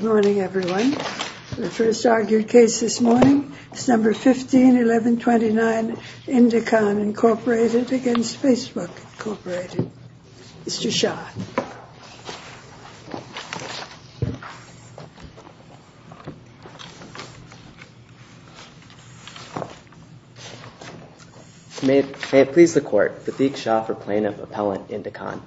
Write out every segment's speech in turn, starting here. Mr. Shah May it please the Court, Fadiq Shah for Plaintiff, Appellant, Indicon.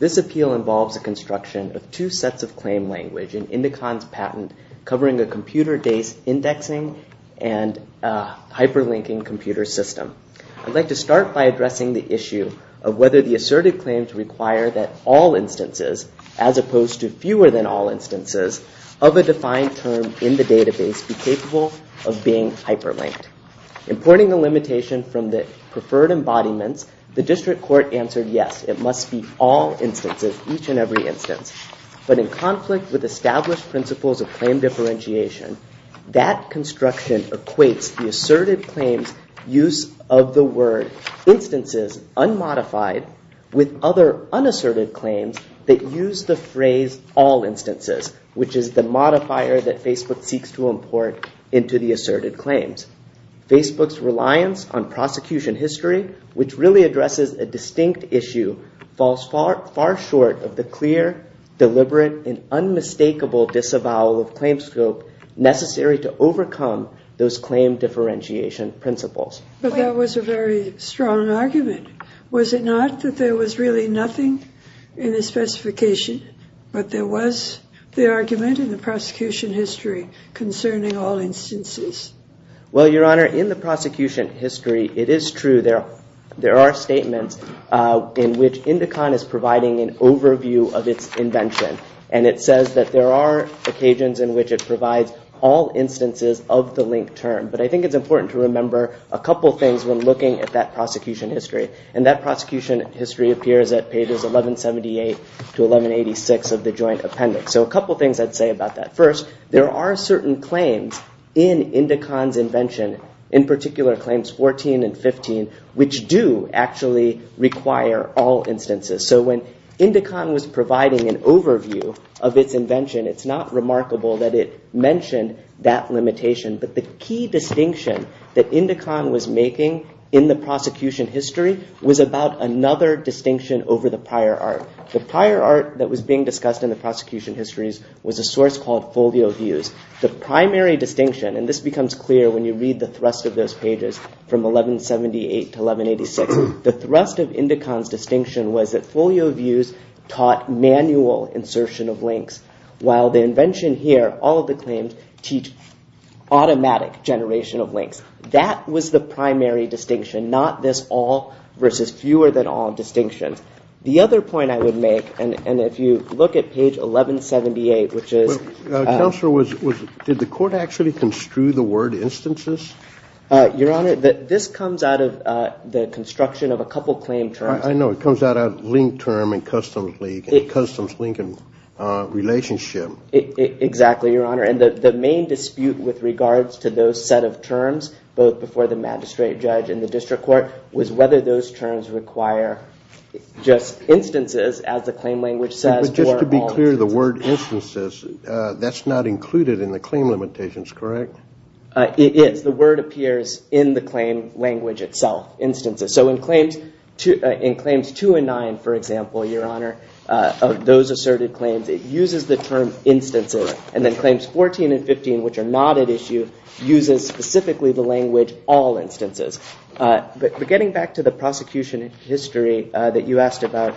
This appeal involves a construction of two sets of claim language in Indicon's patent covering a computer-based indexing and hyperlinking computer system. I'd like to start by addressing the issue of whether the asserted claims require that all instances, as opposed to fewer than all instances, of a defined term in the database be capable of being hyperlinked. Importing the limitation from the preferred embodiments, the District Court answered yes, it must be all instances, each and every instance. But in conflict with established principles of claim differentiation, that construction equates the asserted claims use of the word instances unmodified with other unasserted claims that use the phrase all instances, which is the modifier that Facebook seeks to import into the asserted claims. Facebook's reliance on issue falls far short of the clear, deliberate, and unmistakable disavowal of claim scope necessary to overcome those claim differentiation principles. But that was a very strong argument. Was it not that there was really nothing in the specification, but there was the argument in the prosecution history concerning all instances? Well, Your Honor, in the prosecution history it is true there are statements in which Indicon is providing an overview of its invention. And it says that there are occasions in which it provides all instances of the link term. But I think it's important to remember a couple things when looking at that prosecution history. And that prosecution history appears at pages 1178 to 1186 of the joint appendix. So a couple things I'd say about that. First, there are certain claims in Indicon's invention, in which do actually require all instances. So when Indicon was providing an overview of its invention, it's not remarkable that it mentioned that limitation. But the key distinction that Indicon was making in the prosecution history was about another distinction over the prior art. The prior art that was being discussed in the prosecution histories was a source called folio views. The primary distinction, and this becomes clear when you read the thrust of those pages from 1178 to 1186, the thrust of Indicon's distinction was that folio views taught manual insertion of links, while the invention here, all of the claims, teach automatic generation of links. That was the primary distinction, not this all versus fewer than all distinction. The other point I would make, and if you look at page 1178, which is... Counselor, did the Your Honor, this comes out of the construction of a couple claim terms. I know, it comes out of link term and customs link, a customs link in relationship. Exactly, Your Honor, and the main dispute with regards to those set of terms, both before the magistrate judge and the district court, was whether those terms require just instances, as the claim language says. Just to be clear, the word instances, that's not included in the claim limitations, correct? It is. The word appears in the claim language itself, instances. So in claims two and nine, for example, Your Honor, of those asserted claims, it uses the term instances, and then claims 14 and 15, which are not at issue, uses specifically the language all instances. But getting back to the prosecution history that you asked about,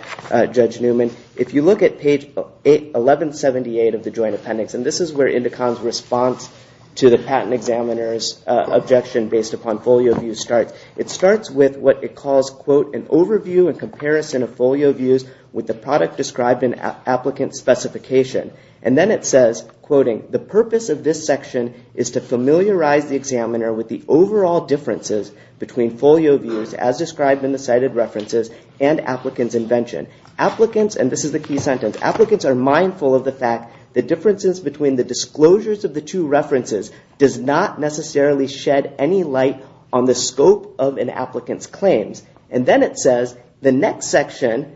Judge Newman, if you look at page 1178 of the Joint Appendix, and this is where Indicom's response to the patent examiner's objection based upon folio views starts. It starts with what it calls, quote, an overview and comparison of folio views with the product described in applicant specification. And then it says, quoting, the purpose of this section is to familiarize the examiner with the overall differences between folio views as described in the cited references and applicant's invention. Applicants, and this is the key sentence, applicants are mindful of the fact that differences between the disclosures of the two references does not necessarily shed any light on the scope of an applicant's claims. And then it says, the next section,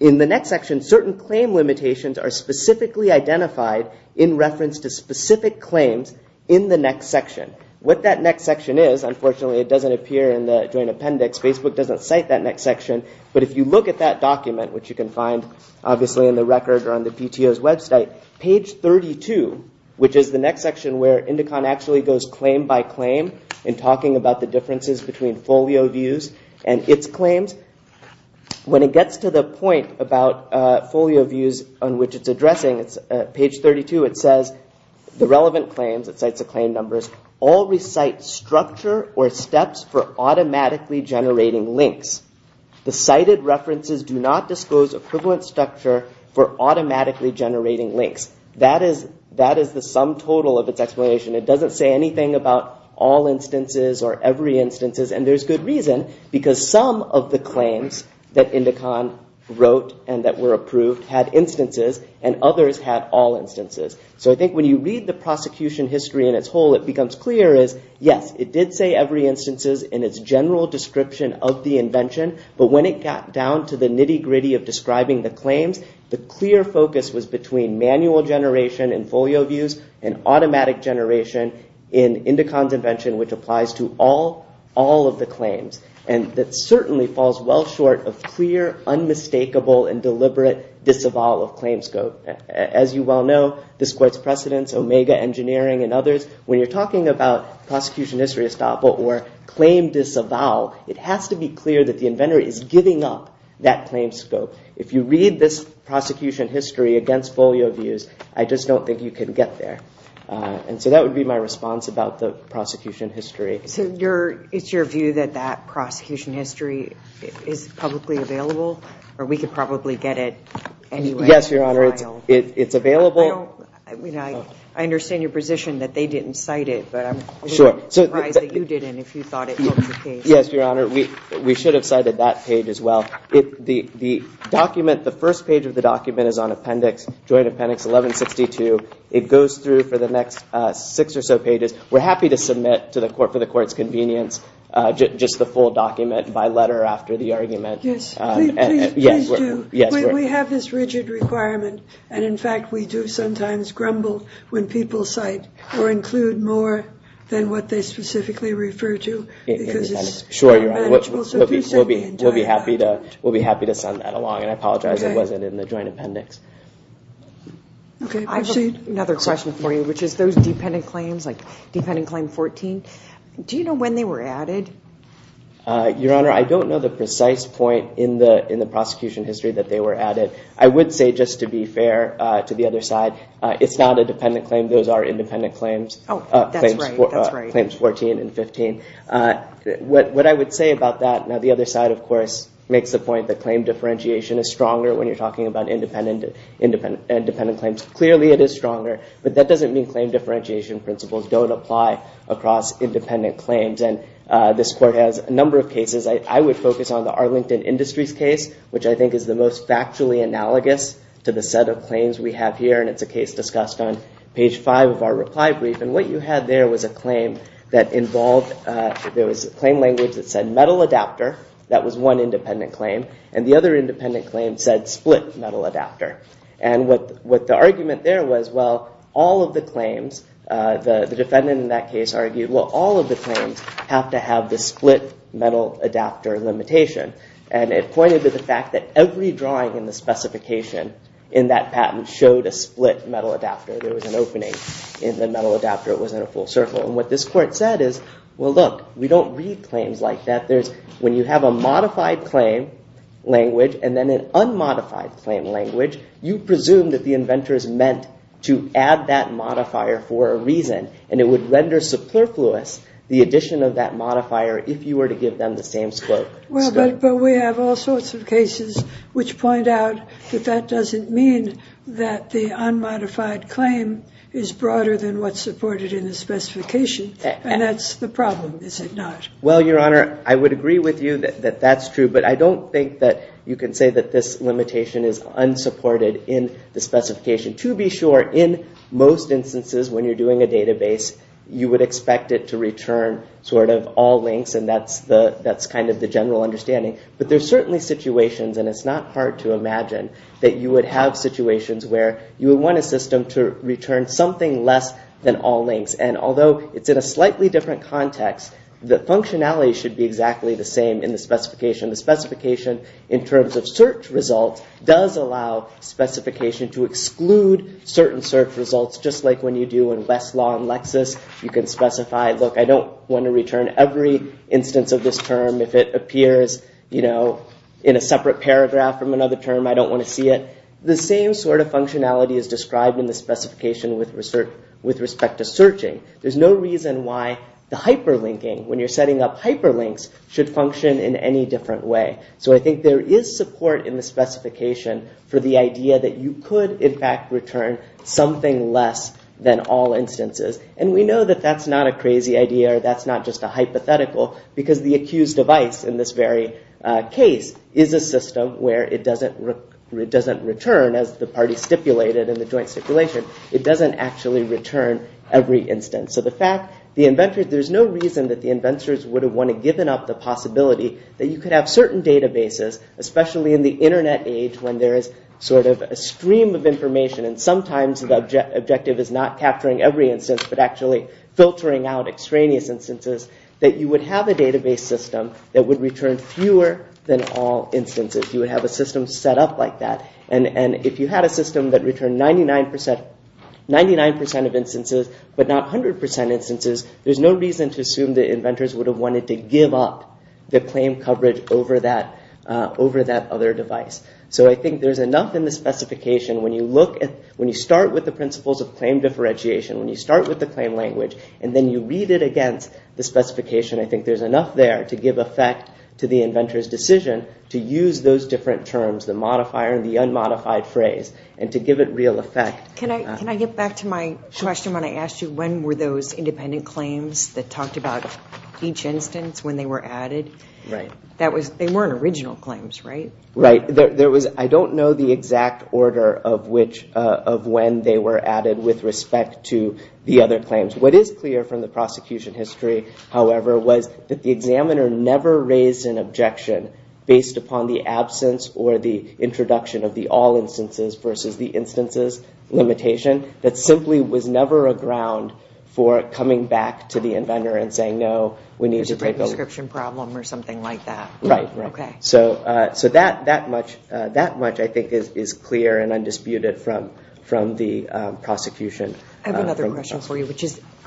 in the next section, certain claim limitations are specifically identified in reference to specific claims in the next section. What that next section is, unfortunately it doesn't appear in the Joint Appendix. Facebook doesn't cite that next section. But if you look at that document, which you can see too, which is the next section where Indicom actually goes claim by claim in talking about the differences between folio views and its claims, when it gets to the point about folio views on which it's addressing, it's page 32, it says, the relevant claims, it cites the claim numbers, all recite structure or steps for automatically generating links. The cited references do not disclose equivalent structure for automatically generating links. That is the sum total of its explanation. It doesn't say anything about all instances or every instances, and there's good reason, because some of the claims that Indicom wrote and that were approved had instances and others had all instances. So I think when you read the prosecution history in its whole, it becomes clear as yes, it did say every instances in its general description of the invention, but when it got down to the nitty-gritty of describing the claims, the clear focus was between manual generation in folio views and automatic generation in Indicom's invention, which applies to all of the claims. And that certainly falls well short of clear, unmistakable, and deliberate disavowal of claims. As you well know, this court's precedents, Omega Engineering and others, when you're talking about prosecution history estoppel or claim disavowal, it has to be clear that the inventor is giving up that claim scope. If you read this prosecution history against folio views, I just don't think you can get there. And so that would be my response about the prosecution history. So it's your view that that prosecution history is publicly available, or we could probably get it anyway? Yes, Your Honor, it's available. I mean, I understand your position that they didn't cite it, but I'm surprised that you didn't if you thought it was the case. Yes, Your Honor, we should have cited that page as well. The document, the first page of the document, is on Appendix, Joint Appendix 1162. It goes through for the next six or so pages. We're happy to submit to the court, for the court's convenience, just the full document by letter after the argument. Yes, we have this rigid requirement, and in fact we do sometimes grumble when people cite or We'll be happy to send that along, and I apologize it wasn't in the Joint Appendix. Okay, I have another question for you, which is those dependent claims, like Dependent Claim 14, do you know when they were added? Your Honor, I don't know the precise point in the prosecution history that they were added. I would say, just to be fair to the other side, it's not a dependent claim. Those are independent claims. Oh, that's right. Claims 14 and 15. What I would say about that, now the other side, of course, makes the point that claim differentiation is stronger when you're talking about independent claims. Clearly it is stronger, but that doesn't mean claim differentiation principles don't apply across independent claims, and this court has a number of cases. I would focus on the Arlington Industries case, which I think is the most factually analogous to the set of claims we have here, and it's a case discussed on page five of our reply brief, and what you had there was a claim that involved, there was a claim language that said metal adapter. That was one independent claim, and the other independent claim said split metal adapter, and what the argument there was, well, all of the claims, the defendant in that case argued, well, all of the claims have to have the split metal adapter limitation, and it pointed to the in that patent showed a split metal adapter. There was an opening in the metal adapter. It wasn't a full circle, and what this court said is, well, look, we don't read claims like that. There's, when you have a modified claim language and then an unmodified claim language, you presume that the inventor is meant to add that modifier for a reason, and it would render superfluous the addition of that modifier if you were to give them the same scope. Well, but we have all seen that the unmodified claim is broader than what's supported in the specification, and that's the problem, is it not? Well, Your Honor, I would agree with you that that's true, but I don't think that you can say that this limitation is unsupported in the specification. To be sure, in most instances when you're doing a database, you would expect it to return sort of all links, and that's the, that's kind of the general understanding, but there's certainly situations, and it's not hard to imagine, that you would have situations where you would want a system to return something less than all links, and although it's in a slightly different context, the functionality should be exactly the same in the specification. The specification, in terms of search results, does allow specification to exclude certain search results, just like when you do in Westlaw and Lexis, you can specify, look, I don't want to return every instance of this term. If it appears, you know, in a way, the same sort of functionality is described in the specification with respect to searching. There's no reason why the hyperlinking, when you're setting up hyperlinks, should function in any different way. So I think there is support in the specification for the idea that you could, in fact, return something less than all instances, and we know that that's not a crazy idea, that's not just a hypothetical, because the accused device, in this very case, is a system where it doesn't return, as the party stipulated in the joint stipulation, it doesn't actually return every instance. So the fact, the inventors, there's no reason that the inventors would have want to given up the possibility that you could have certain databases, especially in the internet age, when there is sort of a stream of information, and sometimes the objective is not capturing every instance, but actually filtering out extraneous instances, that you would have a database system that would return fewer than all instances. You would have a system set up like that, and if you had a system that returned 99% of instances, but not 100% instances, there's no reason to assume the inventors would have wanted to give up the claim coverage over that other device. So I think there's enough in the specification, when you look at, when you start with the principles of claim differentiation, when you start with the claim language, and then you read it against the specification, I think there's enough there to give effect to the inventor's decision to use those different terms, the modifier and the unmodified phrase, and to give it real effect. Can I get back to my question when I asked you, when were those independent claims that talked about each instance, when they were added? They weren't original claims, right? Right, there was, I don't know the exact order of when they were added with respect to the other claims. What is clear from the prosecution history, however, was that the examiner never raised an objection based upon the absence or the introduction of the all instances versus the instances limitation. That simply was never a ground for coming back to the inventor and saying, no, we need to break a prescription problem or something like that. Right, so that much I think is clear and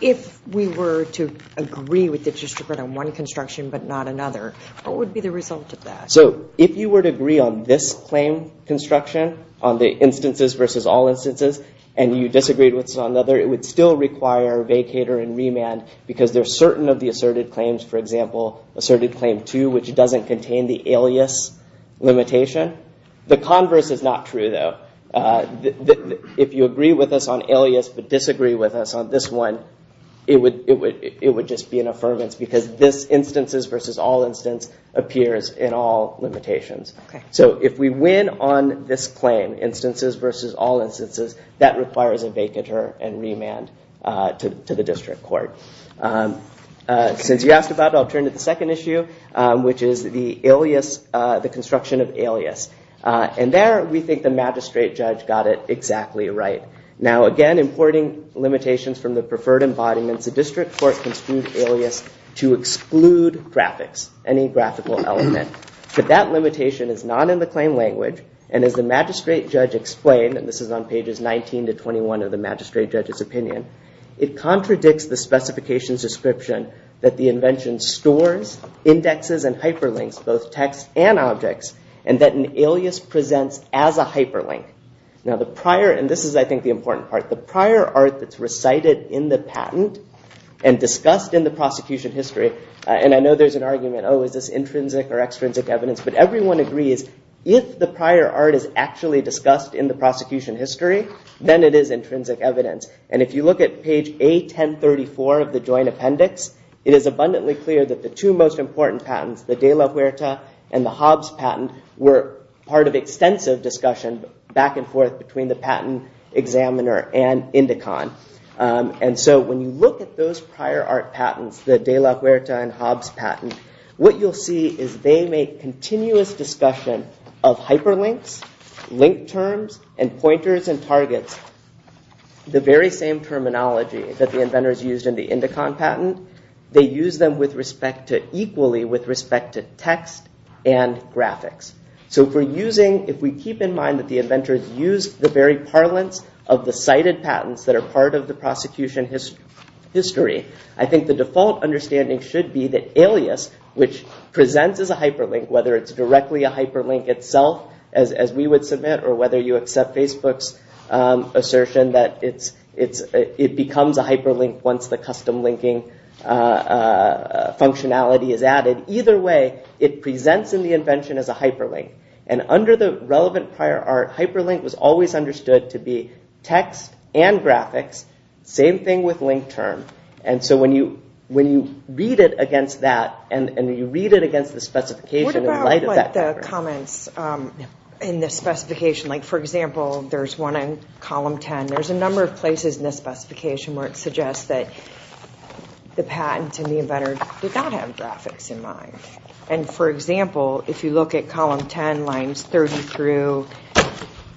if we were to agree with the district on one construction but not another, what would be the result of that? So, if you were to agree on this claim construction on the instances versus all instances, and you disagreed with another, it would still require vacater and remand because they're certain of the asserted claims, for example, asserted claim 2, which doesn't contain the alias limitation. The converse is not true, though. If you agree with us on alias but disagree with us on this one, it would just be an affirmance because this instances versus all instance appears in all limitations. So, if we win on this claim, instances versus all instances, that requires a vacater and remand to the district court. Since you asked about it, I'll turn to the second issue, which is the alias, the construction of alias. And there, we think the magistrate judge got it exactly right. Now, again, importing limitations from the preferred embodiments, the district court construed alias to exclude graphics, any graphical element. But that limitation is not in the claim language, and as the magistrate judge explained, and this is on pages 19 to 21 of the magistrate judge's opinion, it contradicts the specifications description that the invention stores indexes and hyperlinks, both text and objects, and that an alias presents as a hyperlink. Now, the prior, and this is, I think, the important part, the prior art that's recited in the patent and discussed in the prosecution history, and I know there's an argument, oh, is this intrinsic or extrinsic evidence? But everyone agrees, if the prior art is actually discussed in the prosecution history, then it is intrinsic evidence. And if you look at page A1034 of the joint appendix, it is abundantly clear that the two most important patents, the De La Huerta and the Hobbs patent, were part of extensive discussion back and forth between the patent examiner and Indicon. And so when you look at those prior art patents, the De La Huerta and Hobbs patent, what you'll see is they make continuous discussion of hyperlinks, link terms, and pointers and targets, the very same terminology that the inventors used in the Indicon patent. They use them with respect to, equally with respect to text and graphics. So if we're using, if we keep in mind that the inventors used the very parlance of the cited patents that are part of the prosecution history, I think the default understanding should be that alias, which presents as a hyperlink, whether it's directly a hyperlink itself, as we would submit, or whether you accept Facebook's functionality is added. Either way, it presents in the invention as a hyperlink. And under the relevant prior art, hyperlink was always understood to be text and graphics, same thing with link term. And so when you when you read it against that, and you read it against the specification... What about the comments in the specification, like for example, there's one in column 10, there's a number of places in this specification where it suggests that the patents and the inventor did not have graphics in mind. And for example, if you look at column 10, lines 30 through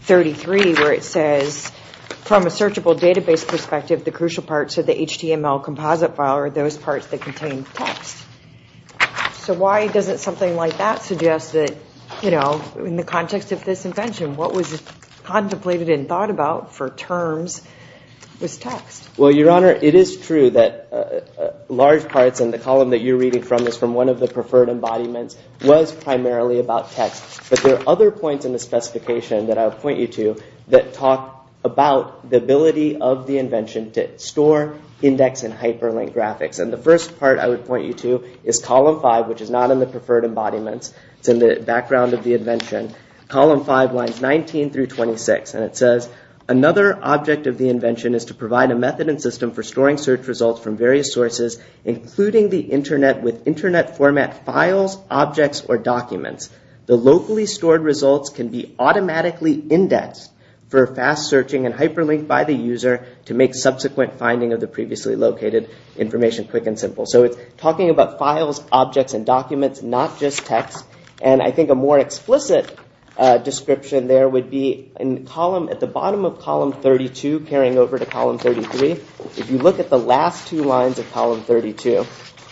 33, where it says, from a searchable database perspective, the crucial parts of the HTML composite file are those parts that contain text. So why doesn't something like that suggest that, you know, in the context of this invention, what was contemplated and thought about for terms was text? Well, Your Honor, it is true that large parts in the column that you're reading from is from one of the preferred embodiments, was primarily about text. But there are other points in the specification that I'll point you to that talk about the ability of the invention to store, index, and hyperlink graphics. And the first part I would point you to is column 5, which is not in the preferred embodiments. It's in the background of the invention. Column 5 lines 19 through 26. And it says, another object of the invention is to provide a method and system for storing search results from various sources, including the internet with internet format files, objects, or documents. The locally stored results can be automatically indexed for fast searching and hyperlinked by the user to make subsequent finding of the previously located information quick and simple. So it's talking about files, objects, and documents, not just text. And I think a more explicit description there would be in column, at the bottom of column 32 carrying over to column 33, if you look at the last two lines of column 32,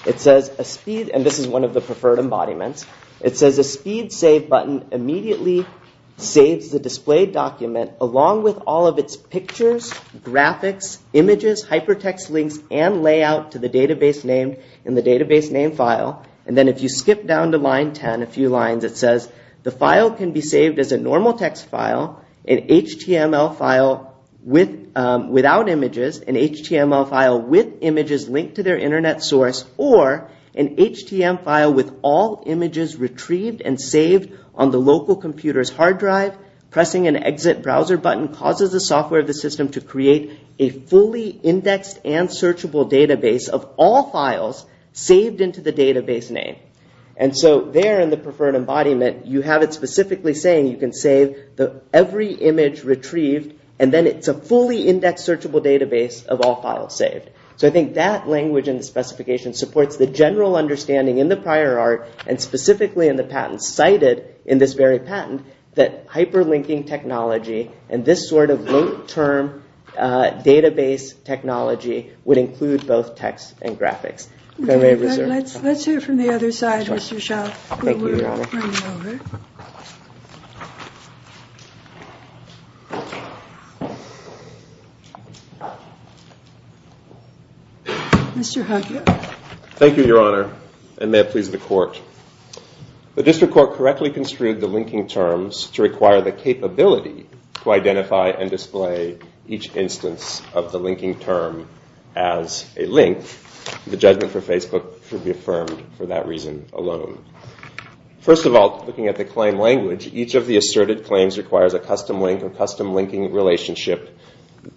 it says a speed, and this is one of the preferred embodiments, it says a speed save button immediately saves the displayed document along with all of its pictures, graphics, images, hypertext links, and layout to the database name file. And then if you skip down to line 10, a few lines, it says the file can be saved as a normal text file, an HTML file without images, an HTML file with images linked to their internet source, or an HTM file with all images retrieved and saved on the local computer's hard drive. Pressing an exit browser button causes the software of the system to create a fully indexed and searchable database of all files saved into the database name. And so there in the preferred embodiment you have it specifically saying you can save every image retrieved and then it's a fully indexed searchable database of all files saved. So I think that language and specification supports the general understanding in the prior art and specifically in the patent cited in this very patent that hyperlinking technology and this sort of long-term database technology would include both text and graphics. Let's hear from the other side, Mr. Schauff. Thank you, Your Honor, and may it please the court, the District Court correctly construed the linking terms to require the capability to identify and display each instance of the linking term as a link. The judgment for Facebook should be affirmed for that reason alone. First of all, looking at the claim language, each of the asserted claims requires a custom link or custom linking relationship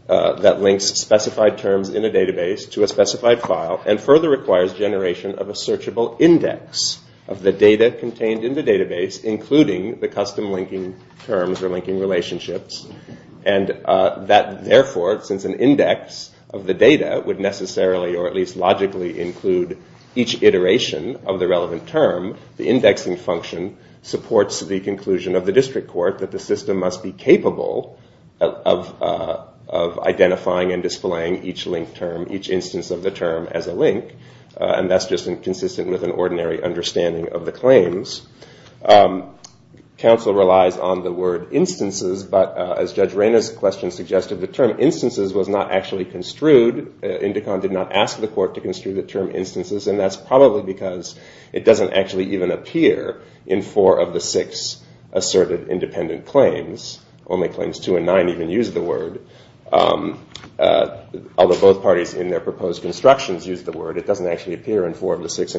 that links specified terms in a database to a specified file and further requires generation of a searchable index of the data contained in the database, including the custom linking terms or linking relationships, and that, therefore, since an index of the data would necessarily or at least logically include each iteration of the relevant term, the indexing function supports the conclusion of the District Court that the system must be capable of identifying and displaying each link term, each instance of the term, as a link and that's just inconsistent with an ordinary understanding of the claims. Counsel relies on the word instances, but as Judge Reyna's question suggested, the term instances was not actually construed. Indicon did not ask the court to construe the term instances, and that's probably because it doesn't actually even appear in four of the six asserted independent claims. Only claims two and nine even use the word, although both parties in their proposed constructions use the word. It doesn't actually appear in four of the six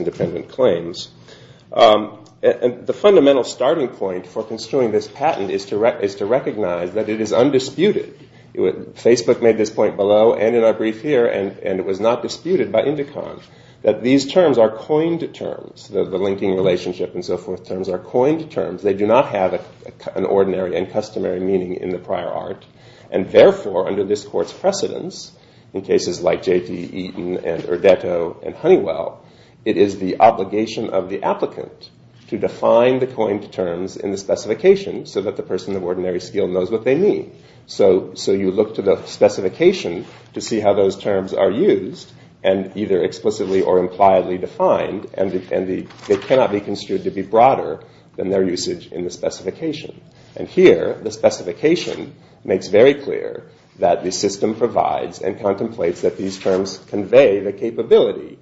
and the fundamental starting point for construing this patent is to recognize that it is undisputed. Facebook made this point below and in our brief here, and it was not disputed by Indicon, that these terms are coined terms. The linking relationship and so forth terms are coined terms. They do not have an ordinary and customary meaning in the prior art, and therefore, under this court's precedence, in cases like J.T. Eaton and Urdetto and Honeywell, it is the court to define the coined terms in the specification so that the person of ordinary skill knows what they mean. So you look to the specification to see how those terms are used, and either explicitly or impliedly defined, and they cannot be construed to be broader than their usage in the specification. And here, the specification makes very clear that the system provides and contemplates that these terms convey the capability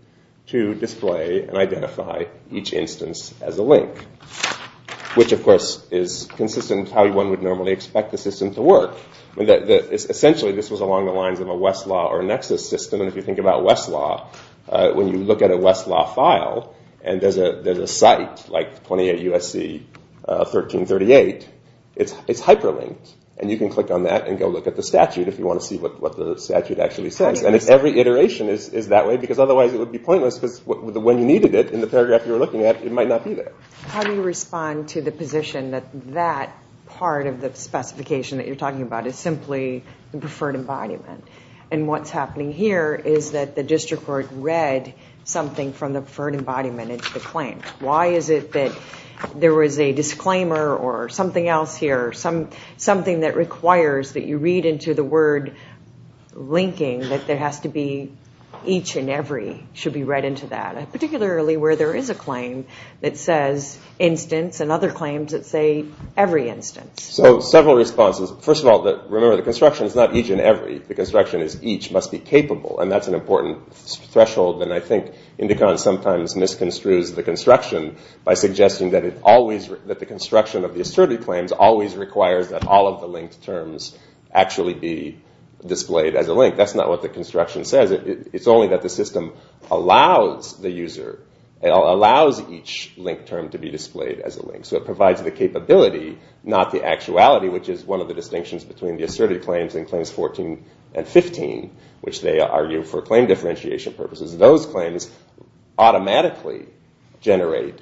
to display and identify each instance as a link, which of course is consistent with how one would normally expect the system to work. Essentially, this was along the lines of a Westlaw or Nexus system, and if you think about Westlaw, when you look at a Westlaw file and there's a site like 28 USC 1338, it's hyperlinked, and you can click on that and go look at the statute if you want to see what the statute actually says. And if every iteration is that way, because otherwise it would be pointless, because when you needed it in the paragraph you were looking at, it might not be there. How do you respond to the position that that part of the specification that you're talking about is simply the preferred embodiment? And what's happening here is that the district court read something from the preferred embodiment into the claim. Why is it that there was a disclaimer or something else here, something that should be read into that, particularly where there is a claim that says instance and other claims that say every instance? So several responses. First of all, remember the construction is not each and every. The construction is each must be capable, and that's an important threshold. And I think Indicon sometimes misconstrues the construction by suggesting that it always, that the construction of the assertive claims always requires that all of the linked terms actually be displayed as a link. That's not what the construction says. It's only that the system allows the user, allows each link term to be displayed as a link. So it provides the capability, not the actuality, which is one of the distinctions between the assertive claims and claims 14 and 15, which they argue for claim differentiation purposes. Those claims automatically generate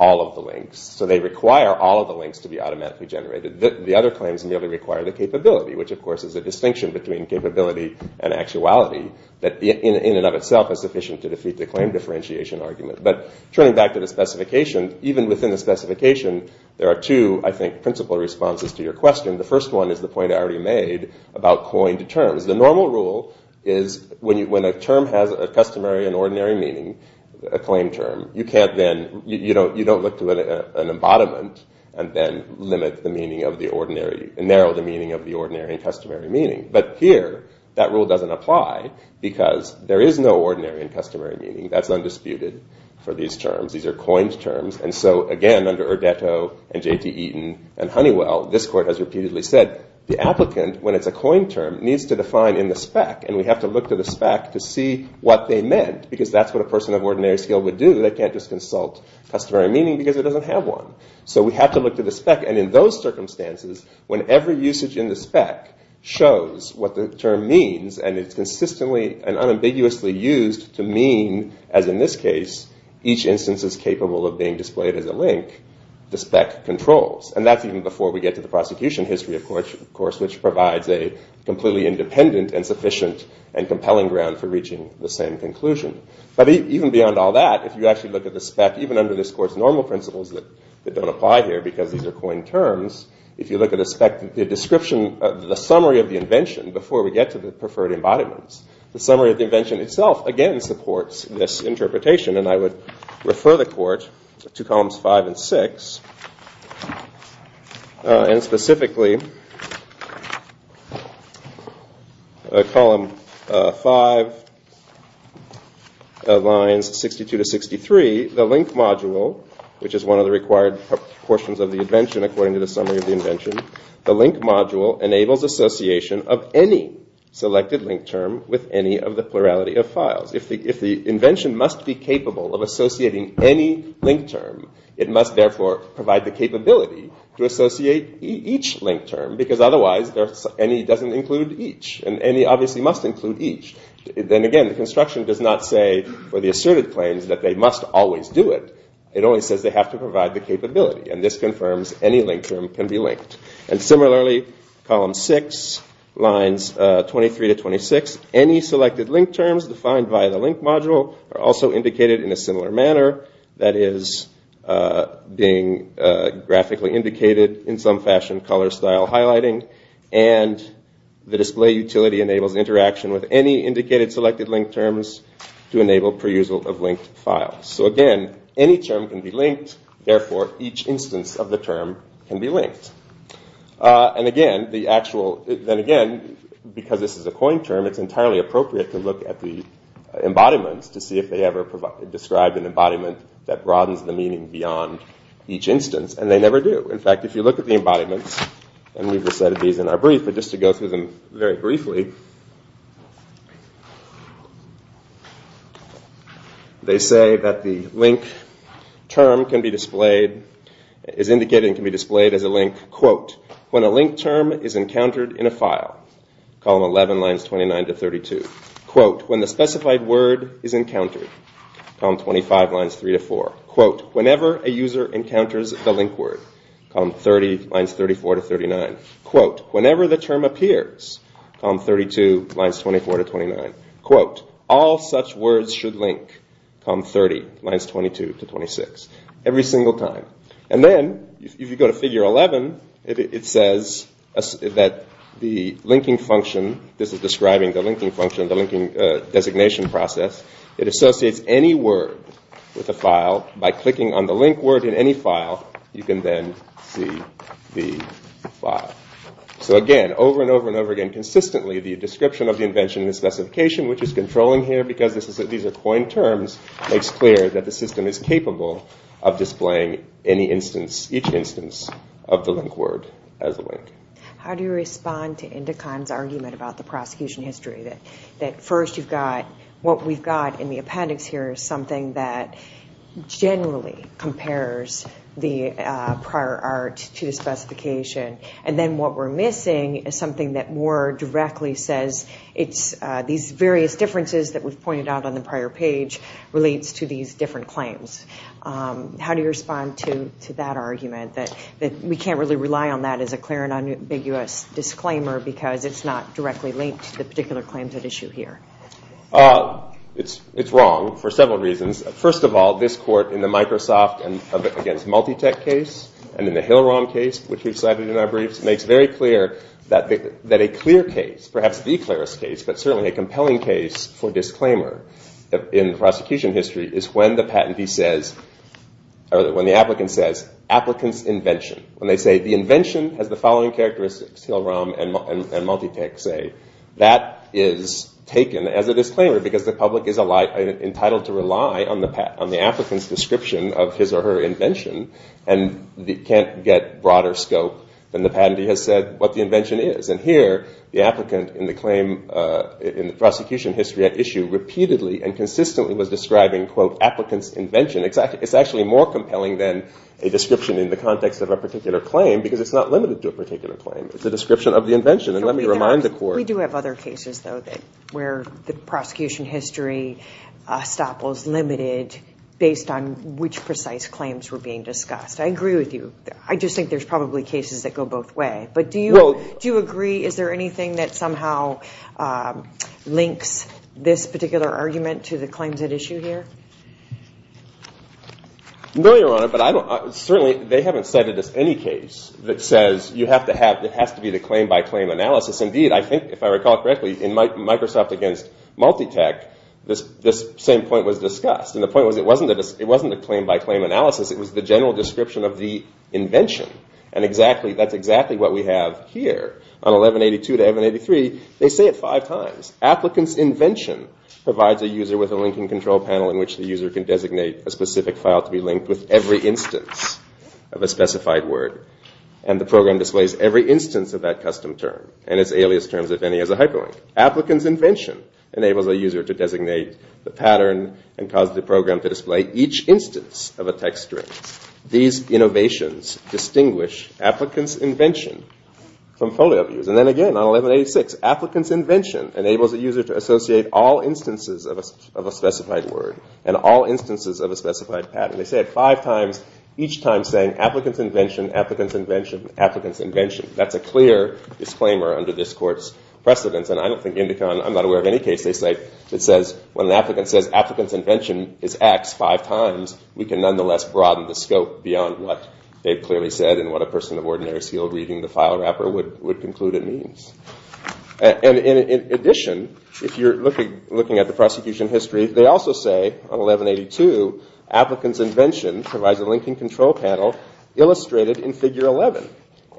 all of the links. So they require all of the links to be automatically generated. The other claims merely require the capability, which of course is a distinction between capability and in and of itself is sufficient to defeat the claim differentiation argument. But turning back to the specification, even within the specification there are two, I think, principal responses to your question. The first one is the point I already made about coined terms. The normal rule is when a term has a customary and ordinary meaning, a claim term, you can't then, you don't look to an embodiment and then limit the meaning of the ordinary, narrow the meaning of the ordinary and customary meaning. But here that rule doesn't apply because there is no ordinary and customary meaning. That's undisputed for these terms. These are coined terms. And so again, under Urdetto and J.T. Eaton and Honeywell, this court has repeatedly said the applicant, when it's a coined term, needs to define in the spec. And we have to look to the spec to see what they meant. Because that's what a person of ordinary skill would do. They can't just consult customary meaning because it doesn't have one. So we have to look to the spec. And in those circumstances, whenever usage in the spec shows what the term means, and it's consistently and unambiguously used to mean, as in this case, each instance is capable of being displayed as a link, the spec controls. And that's even before we get to the prosecution history, of course, which provides a completely independent and sufficient and compelling ground for reaching the same conclusion. But even beyond all that, if you actually look at the spec, even under this court's normal principles that don't apply here because these are coined terms, if you look at the spec, the description, the summary of the invention before we get to the preferred embodiments, the summary of the invention itself, again, supports this interpretation. And I would refer the court to columns five and six. And specifically, column five, lines 62 to 63, the link module, which is one of the required portions of the invention according to the summary of the invention, the link module enables association of any selected link term with any of the plurality of files. If the invention must be capable of associating any link term, it must, therefore, provide the capability to associate each link term, because otherwise, any doesn't include each. And any obviously must include each. Then again, the construction does not say for the asserted claims that they must always do it. It only says they have to And similarly, column six, lines 23 to 26, any selected link terms defined by the link module are also indicated in a similar manner, that is, being graphically indicated in some fashion, color style highlighting, and the display utility enables interaction with any indicated selected link terms to enable perusal of linked files. So again, any term can be linked, therefore, each instance of the term can be linked. And again, the actual, then again, because this is a coin term, it's entirely appropriate to look at the embodiments to see if they ever describe an embodiment that broadens the meaning beyond each instance, and they never do. In fact, if you look at the embodiments, and we've just edited these in our brief, but just to go through them very briefly, they say that the link term can be displayed as a link, quote, when a link term is encountered in a file, column 11, lines 29 to 32, quote, when the specified word is encountered, column 25, lines 3 to 4, quote, whenever a user encounters the link word, column 30, lines 34 to 39, quote, whenever the term appears, column 32, lines 24 to 29, quote, all such words should link, column 30, lines 22 to 26, every single time. And then, if you go to figure 11, it says that the linking function, this is describing the linking function, the linking designation process, it associates any word with a file by clicking on the link word in any file, you can then see the file. So again, over and over and over again, consistently, the description of the invention and the specification, which is controlling here, because these are coin terms, makes clear that the system is capable of displaying any instance each instance of the link word as a link. How do you respond to Indikon's argument about the prosecution history that, that first you've got, what we've got in the appendix here is something that generally compares the prior art to the specification. And then what we're missing is something that more directly says, it's these various differences that we've pointed out on the prior page relates to these different claims. How do you respond to Indikon's argument that we can't really rely on that as a clear and unambiguous disclaimer, because it's not directly linked to the particular claims at issue here? It's wrong for several reasons. First of all, this court in the Microsoft against Multitech case, and in the Hill-Rom case, which we've cited in our briefs, makes very clear that a clear case, perhaps the clearest case, but certainly a compelling case for disclaimer in prosecution history is when the patentee says, or when the applicant says, applicant's invention. When they say the invention has the following characteristics, Hill-Rom and Multitech say, that is taken as a disclaimer because the public is entitled to rely on the applicant's description of his or her invention and can't get broader scope than the patentee has said what the invention is. And here, the applicant in the prosecution history at issue repeatedly and consistently was describing, quote, more compelling than a description in the context of a particular claim, because it's not limited to a particular claim. It's a description of the invention. And let me remind the court... We do have other cases, though, that where the prosecution history stop was limited based on which precise claims were being discussed. I agree with you. I just think there's probably cases that go both way. But do you agree, is there anything that somehow links this particular argument to the claims at issue here? I'm not familiar on it, but certainly they haven't cited any case that says you have to have, it has to be the claim by claim analysis. Indeed, I think, if I recall correctly, in Microsoft against Multitech, this same point was discussed. And the point was it wasn't a claim by claim analysis. It was the general description of the invention. And that's exactly what we have here. On 1182 to 1183, they say it five times. Applicant's invention provides a user with a linking control panel in which the user can designate a specific file to be linked with every instance of a specified word. And the program displays every instance of that custom term and its alias terms, if any, as a hyperlink. Applicant's invention enables a user to designate the pattern and cause the program to display each instance of a text string. These innovations distinguish applicant's invention from folio views. And then again, on 1186, applicant's invention enables a user to associate all instances of a specified word and all instances of a specified pattern. They say it five times, each time saying, applicant's invention, applicant's invention, applicant's invention. That's a clear disclaimer under this court's precedence. And I don't think Indicon, I'm not aware of any case they say, it says when an applicant says applicant's invention is X five times, we can nonetheless broaden the scope beyond what they've clearly said and what a person of ordinary skill reading the file wrapper would conclude it means. And in addition, if you're looking at the prosecution history, they also say on 1182, applicant's invention provides a linking control panel illustrated in figure 11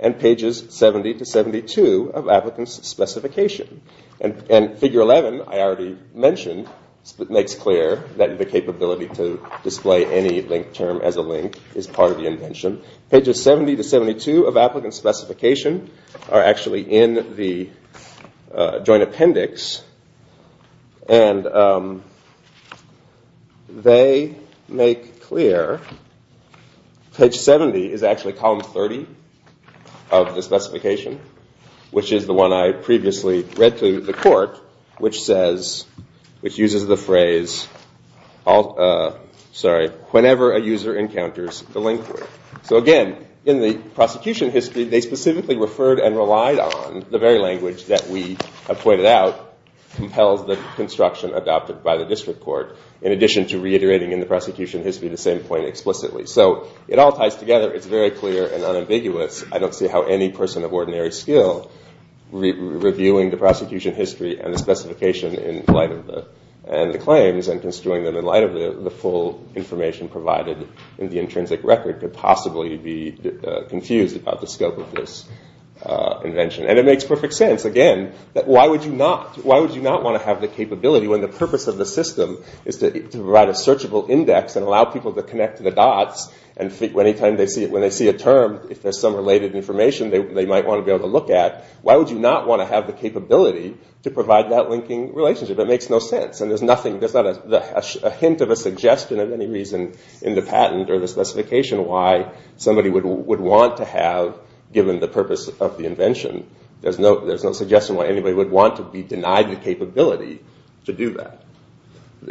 and pages 70 to 72 of applicant's specification. And figure 11, I already mentioned, makes clear that the capability to display any linked term as a link is part of the invention. Pages 70 to 72 of applicant's specification is part of the joint appendix. And they make clear, page 70 is actually column 30 of the specification, which is the one I previously read to the court, which says, which uses the phrase, whenever a user encounters the linked word. So again, in the prosecution history, they specifically referred and relied on the very language that we have pointed out compels the construction adopted by the district court, in addition to reiterating in the prosecution history, the same point explicitly. So it all ties together. It's very clear and unambiguous. I don't see how any person of ordinary skill reviewing the prosecution history and the specification in light of the claims and construing them in light of the full information provided in the intrinsic record could possibly be confused about the scope of this invention. And it makes perfect sense, again, that why would you not want to have the capability when the purpose of the system is to provide a searchable index and allow people to connect to the dots, and when they see a term, if there's some related information they might want to be able to look at, why would you not want to have the capability to provide that linking relationship? It makes no sense. And there's not a hint of a suggestion of a specification why somebody would want to have, given the purpose of the invention, there's no suggestion why anybody would want to be denied the capability to do that.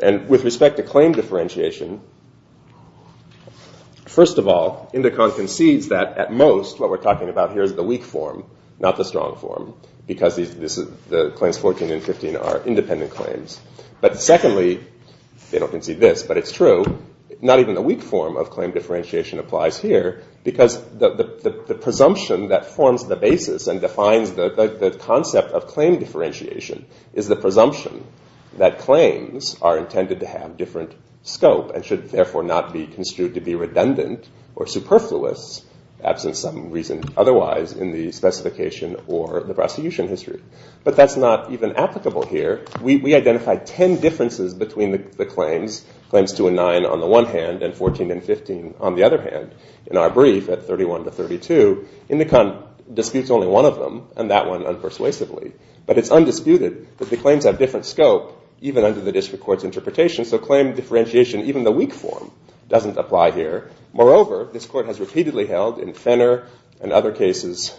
And with respect to claim differentiation, first of all, Indicon concedes that at most what we're talking about here is the weak form, not the strong form, because the claims 14 and 15 are independent claims. But secondly, they don't concede this, but it's true, not even the weak form of claim differentiation applies here, because the presumption that forms the basis and defines the concept of claim differentiation is the presumption that claims are intended to have different scope and should therefore not be construed to be redundant or superfluous, absent some reason otherwise in the specification or the prosecution history. But that's not even applicable here. We identified 10 differences between the claims, claims 2 and 9 on the one hand and 14 and 15 on the other hand, in our brief at 31 to 32. Indicon disputes only one of them, and that one unpersuasively. But it's undisputed that the claims have different scope, even under the district court's interpretation. So claim differentiation, even the weak form, doesn't apply here. Moreover, this court has repeatedly held in Fenner and other cases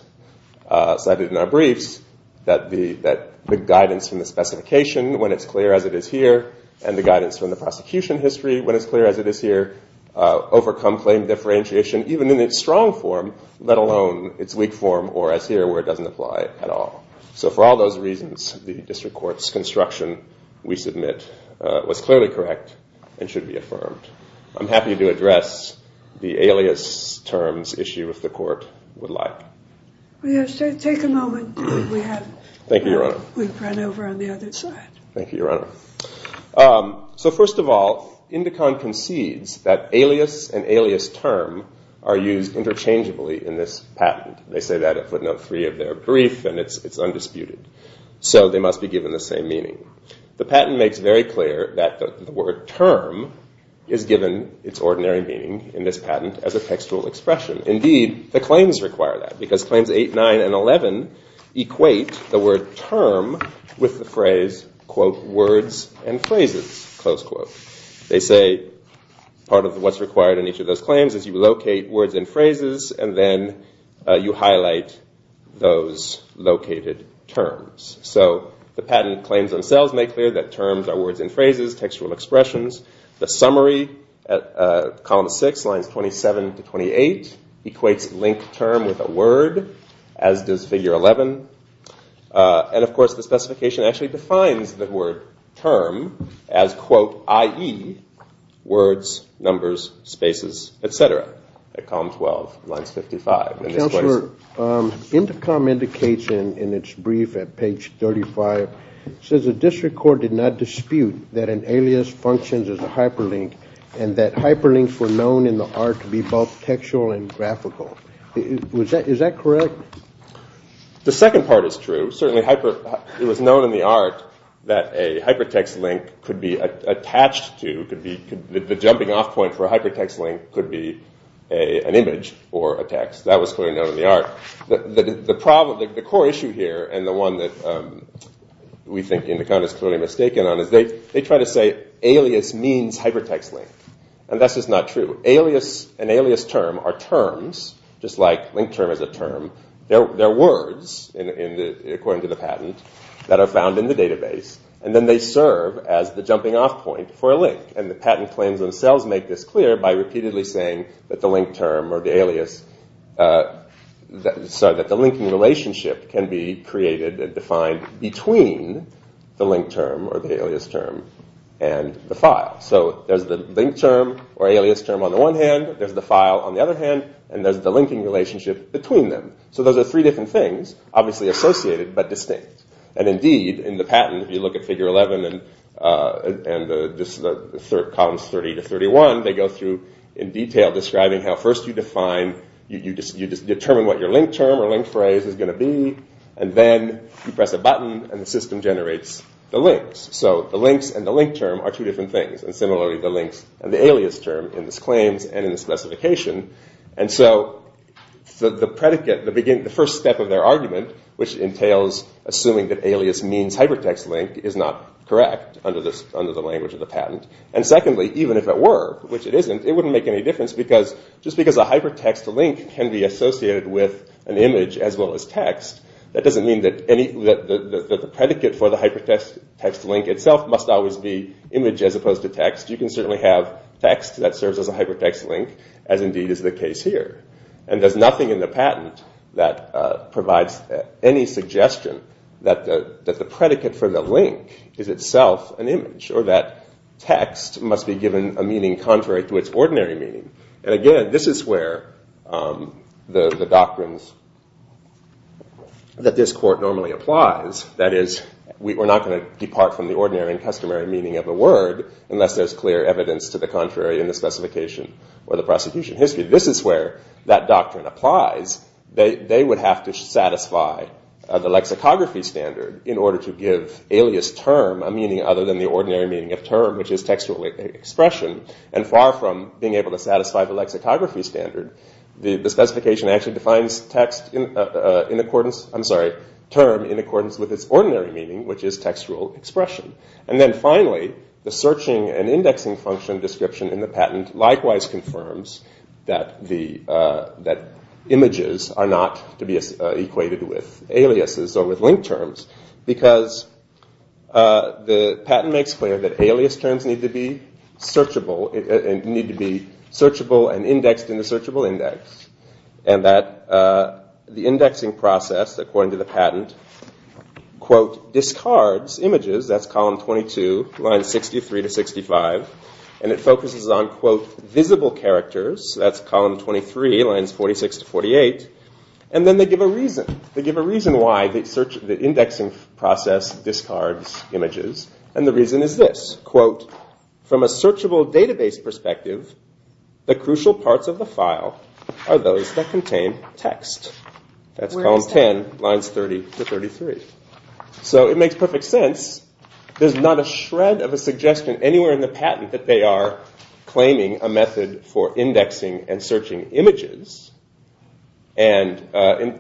cited in our briefs that the guidance from the specification, when it's clear as it is here, and the guidance from the prosecution history, when it's clear as it is here, overcome claim differentiation, even in its strong form, let alone its weak form, or as here where it doesn't apply at all. So for all those reasons, the district court's construction, we submit, was clearly correct and should be affirmed. I'm happy to address the alias terms issue if the court would like. Yes, take a moment. We have, we've run over on the other side. Thank you, Your Honor. So first of all, Indicon concedes that alias and alias term are used interchangeably in this patent. They say that at footnote three of their brief, and it's undisputed. So they must be given the same meaning. The patent makes very clear that the word term is given its ordinary meaning in this patent as a textual expression. Indeed, the claims require that, because claims 8, 9, and 11 equate the term with the phrase, quote, words and phrases, close quote. They say, part of what's required in each of those claims is you locate words and phrases, and then you highlight those located terms. So the patent claims themselves make clear that terms are words and phrases, textual expressions. The summary at column six, lines 27 to 28 equates link term with a term. And of course, the specification actually defines the word term as, quote, i.e., words, numbers, spaces, et cetera, at column 12, lines 55. Counselor, Indicom indicates in its brief at page 35, says a district court did not dispute that an alias functions as a hyperlink, and that hyperlinks were known in the art to be both textual and graphical. Is that correct? The second part is true. Certainly, it was known in the art that a hypertext link could be attached to, the jumping off point for a hypertext link could be an image or a text. That was clearly known in the art. The core issue here, and the one that we think Indicom is clearly mistaken on, is they try to say alias means hypertext link. And that's just not true. An alias term are terms, just like link term is a term. They're words, according to the patent, that are found in the database. And then they serve as the jumping off point for a link. And the patent claims themselves make this clear by repeatedly saying that the link term or the alias, sorry, that the linking relationship can be created and defined between the link term or the alias term and the file. So there's the link term or alias term on the one hand, there's the file on the other hand, and there's the linking relationship between them. So those are three different things, obviously associated, but distinct. And indeed, in the patent, if you look at figure 11, and columns 30 to 31, they go through in detail describing how first you define, you determine what your link term or link phrase is going to be. And then you press a button and the system generates the links. So the links and the link term are two different things. And similarly, the links and the alias term in both the patent's claims and in the specification. And so the predicate, the first step of their argument, which entails assuming that alias means hypertext link, is not correct under the language of the patent. And secondly, even if it were, which it isn't, it wouldn't make any difference because just because a hypertext link can be associated with an image as well as text, that doesn't mean that the predicate for the hypertext text link itself must always be image as opposed to text. You can certainly have text that serves as a hypertext link, as indeed is the case here. And there's nothing in the patent that provides any suggestion that the predicate for the link is itself an image, or that text must be given a meaning contrary to its ordinary meaning. And again, this is where the doctrines that this court normally applies, that is, we're not going to depart from the ordinary and customary meaning of a word unless there's clear evidence to the contrary in the specification or the prosecution history. This is where that doctrine applies. They would have to satisfy the lexicography standard in order to give alias term a meaning other than the ordinary meaning of term, which is textual expression. And far from being able to satisfy the lexicography standard, the specification actually defines term in accordance with its ordinary meaning, which is textual expression. And then finally, the searching and indexing function description in the patent likewise confirms that images are not to be equated with aliases or with link terms, because the patent makes clear that alias terms need to be searchable and indexed in the searchable index, and that the indexing process, according to the patent, quote, discards images, that's column 22, lines 63 to 65, and it focuses on, quote, visible characters, that's column 23, lines 46 to 48. And then they give a reason. They give a reason why the indexing process discards images. And the reason is this, quote, from a searchable database perspective, the crucial parts of the file are those that contain text. That's column 10, lines 30 to 33. So it makes perfect sense. There's not a shred of a suggestion anywhere in the patent that they are claiming a method for indexing and searching images. And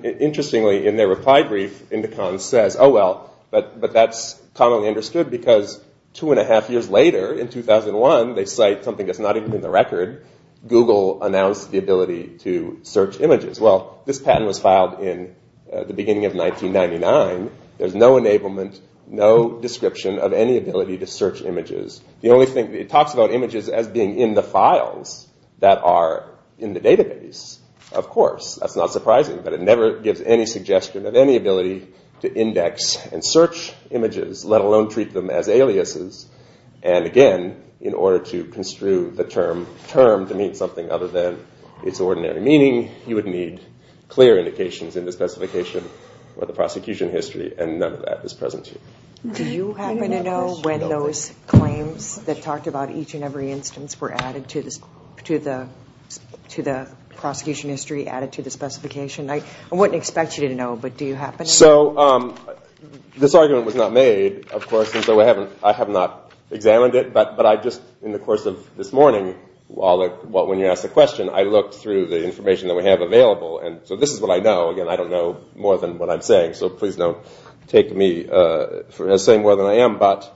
interestingly, in their reply brief, Indicon says, oh, well, but that's commonly understood, because two and a half years later, in 2001, they cite something that's not even in the record. Google announced the ability to search images. Well, this patent was filed in the beginning of 1999. There's no enablement, no description of any ability to search images. The only thing, it talks about images as being in the files that are in the database. Of course, that's not surprising, but it never gives any suggestion of any ability to index and search images, let alone treat them as aliases. And again, in order to construe the term term to mean something other than its ordinary meaning, you would need clear indications in the specification or the prosecution history, and none of that is present here. Do you happen to know when those claims that talked about each and every instance were added to the prosecution history, added to the specification? I wouldn't expect you to know, but do you happen to know? So this argument was not made, of course, and so I have not examined it, but I just, in the course of this morning, when you asked the question, I looked through the information that I had. So this is what I know. Again, I don't know more than what I'm saying, so please don't take me as saying more than I am, but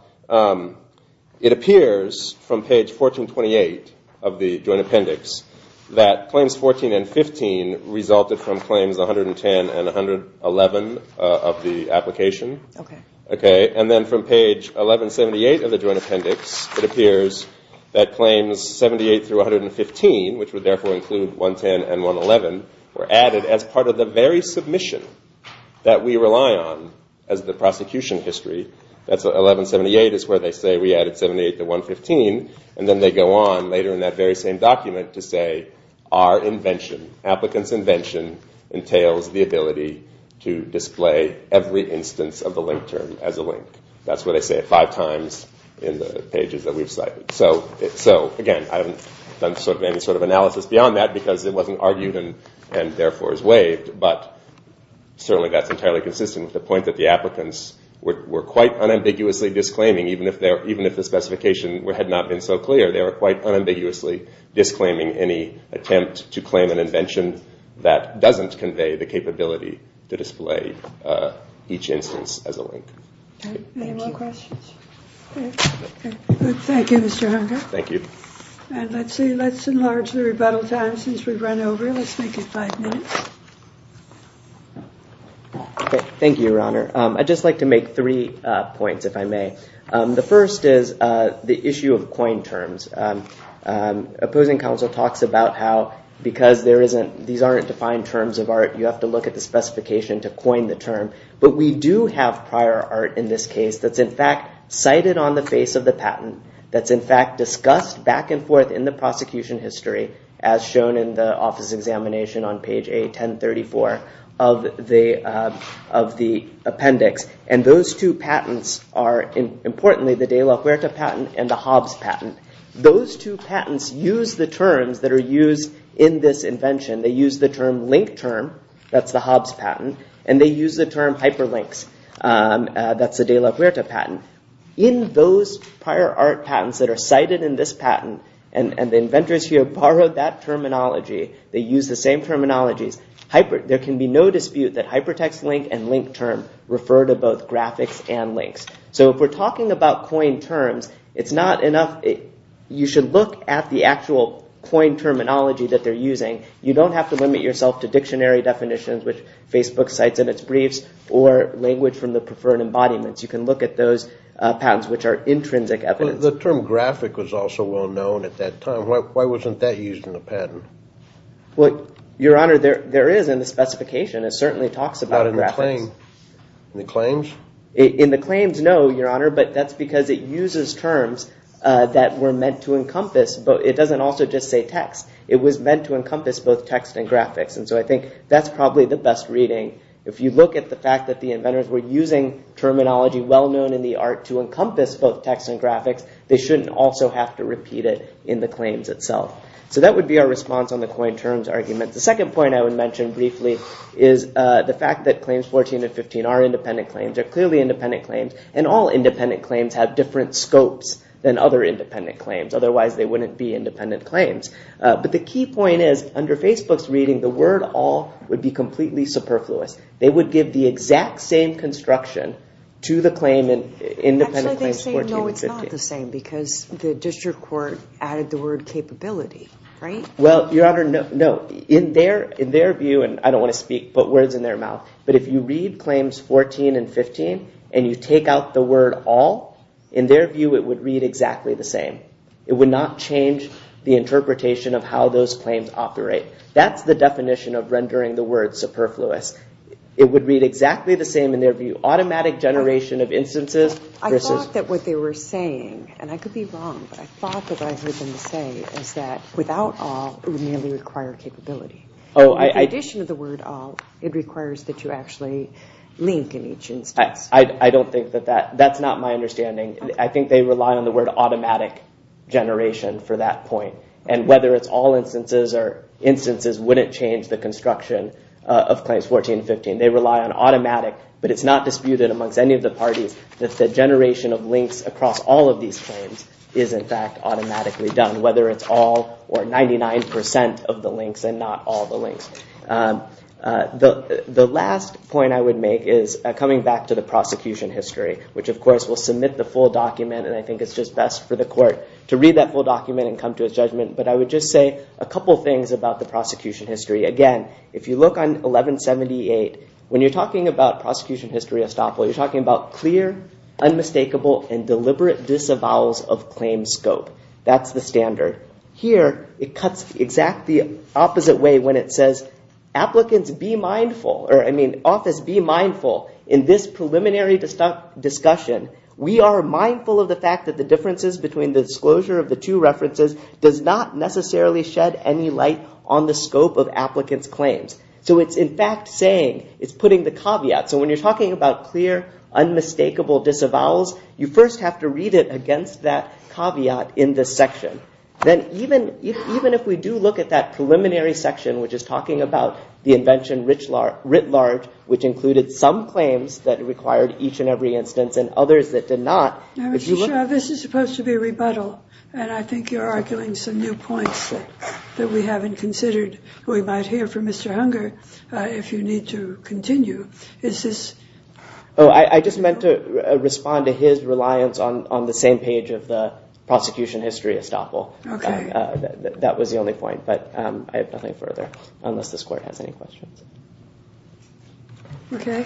it appears from page 1428 of the Joint Appendix that claims 14 and 15 resulted from claims 110 and 111 of the application. Okay. Okay. And then from page 1178 of the Joint Appendix, it appears that claims 78 through 115, which would therefore include 110 and 111, were added as part of the very submission that we rely on as the prosecution history. That's 1178 is where they say we added 78 to 115, and then they go on later in that very same document to say our invention, applicants' invention entails the ability to display every instance of the link term as a link. That's what they say five times in the pages that we've cited. So again, I haven't done any sort of analysis beyond that because it wasn't argued and therefore is waived, but certainly that's entirely consistent with the point that the applicants were quite unambiguously disclaiming, even if the specification had not been so clear, they were quite unambiguously disclaiming any attempt to claim an invention that doesn't convey the capability to display each instance as a link. Okay. Any more questions? Okay. Thank you, Mr. Hunger. Thank you. And let's enlarge the rebuttal time since we've run over. Let's make it five minutes. Thank you, Your Honor. I'd just like to make three points, if I may. The first is the issue of coined terms. Opposing counsel talks about how because these aren't defined terms of art, you have to look at the specification to coin the term, but we do have prior art in this case that's in fact cited on the face of the patent, that's in fact discussed back and forth in the prosecution history as shown in the office examination on page A1034 of the appendix, and those two patents are, importantly, the de la Huerta patent and the Hobbs patent. Those two patents use the terms that are used in this invention. They use the term link term, that's the Hobbs patent, and they use the term hyperlinks. That's the de la Huerta patent. In those prior art patents that are cited in this patent, and the inventors here borrowed that terminology, they use the same terminologies, there can be no dispute that hypertext link and link term refer to both graphics and links. So if we're talking about coined terms, you should look at the actual coined terminology that they're using. You don't have to limit yourself to dictionary definitions, which Facebook cites in its briefs, or language from the preferred embodiments. You can look at those patents which are intrinsic evidence. The term graphic was also well known at that time. Why wasn't that used in the patent? Well, your honor, there is in the specification. It certainly talks about graphics. In the claims? In the claims, no, your honor, but that's because it uses terms that were meant to encompass, but it doesn't also just say text. It was meant to encompass both text and graphics, and so I think that's probably the best reading. If you look at the fact that the inventors were using terminology well known in the art to encompass both text and graphics, they shouldn't also have to repeat it in the claims itself. So that would be our response on the coined terms argument. The second point I would mention briefly is the fact that claims 14 and 15 are independent claims, are clearly independent claims, and all independent claims have different scopes than other independent claims. Otherwise, they wouldn't be independent claims. But the key point is, under Facebook's reading, the word all would be completely superfluous. They would give the exact same construction to the claim and independent claims 14 and 15. Actually, they say, no, it's not the same, because the district court added the word capability, right? Well, your honor, no. In their view, and I don't want to speak, but words in their mouth, but if you read claims 14 and 15 and you take out the word all, in their view, it would read exactly the same. It would not change the interpretation of how those claims operate. That's the definition of rendering the word superfluous. It would read exactly the same in their view. Automatic generation of instances. I thought that what they were saying, and I could be wrong, but I thought that I heard them say is that without all, it would merely require capability. In addition to the word all, it requires that you actually link in each instance. I don't think that that, that's not my understanding. I think they rely on the word automatic generation for that instances wouldn't change the construction of claims 14, 15. They rely on automatic, but it's not disputed amongst any of the parties that the generation of links across all of these claims is, in fact, automatically done, whether it's all or 99% of the links and not all the links. The last point I would make is coming back to the prosecution history, which, of course, will submit the full document. And I think it's just best for the court to read that full document and come to its judgment. But I would just say a couple of things about the prosecution history. Again, if you look on 1178, when you're talking about prosecution history estoppel, you're talking about clear, unmistakable, and deliberate disavowals of claims scope. That's the standard. Here, it cuts exactly the opposite way when it says applicants be mindful, or I mean office be mindful in this preliminary discussion. We are mindful of the fact that the differences between the disclosure of the two references does not necessarily shed any light on the scope of applicants' claims. So it's, in fact, saying, it's putting the caveat. So when you're talking about clear, unmistakable disavowals, you first have to read it against that caveat in this section. Then even if we do look at that preliminary section, which is talking about the invention writ large, which included some claims that required each and every instance and others that did not, if you look at it. This is supposed to be a rebuttal. And I think you're arguing some new points that we haven't considered. We might hear from Mr. Hunger if you need to continue. Is this? Oh, I just meant to respond to his reliance on the same page of the prosecution history estoppel. That was the only point. But I have nothing further, unless this court has any questions. OK.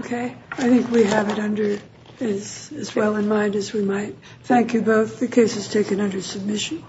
OK. I think we have it under as well in mind as we might. Thank you both. The case is taken under submission.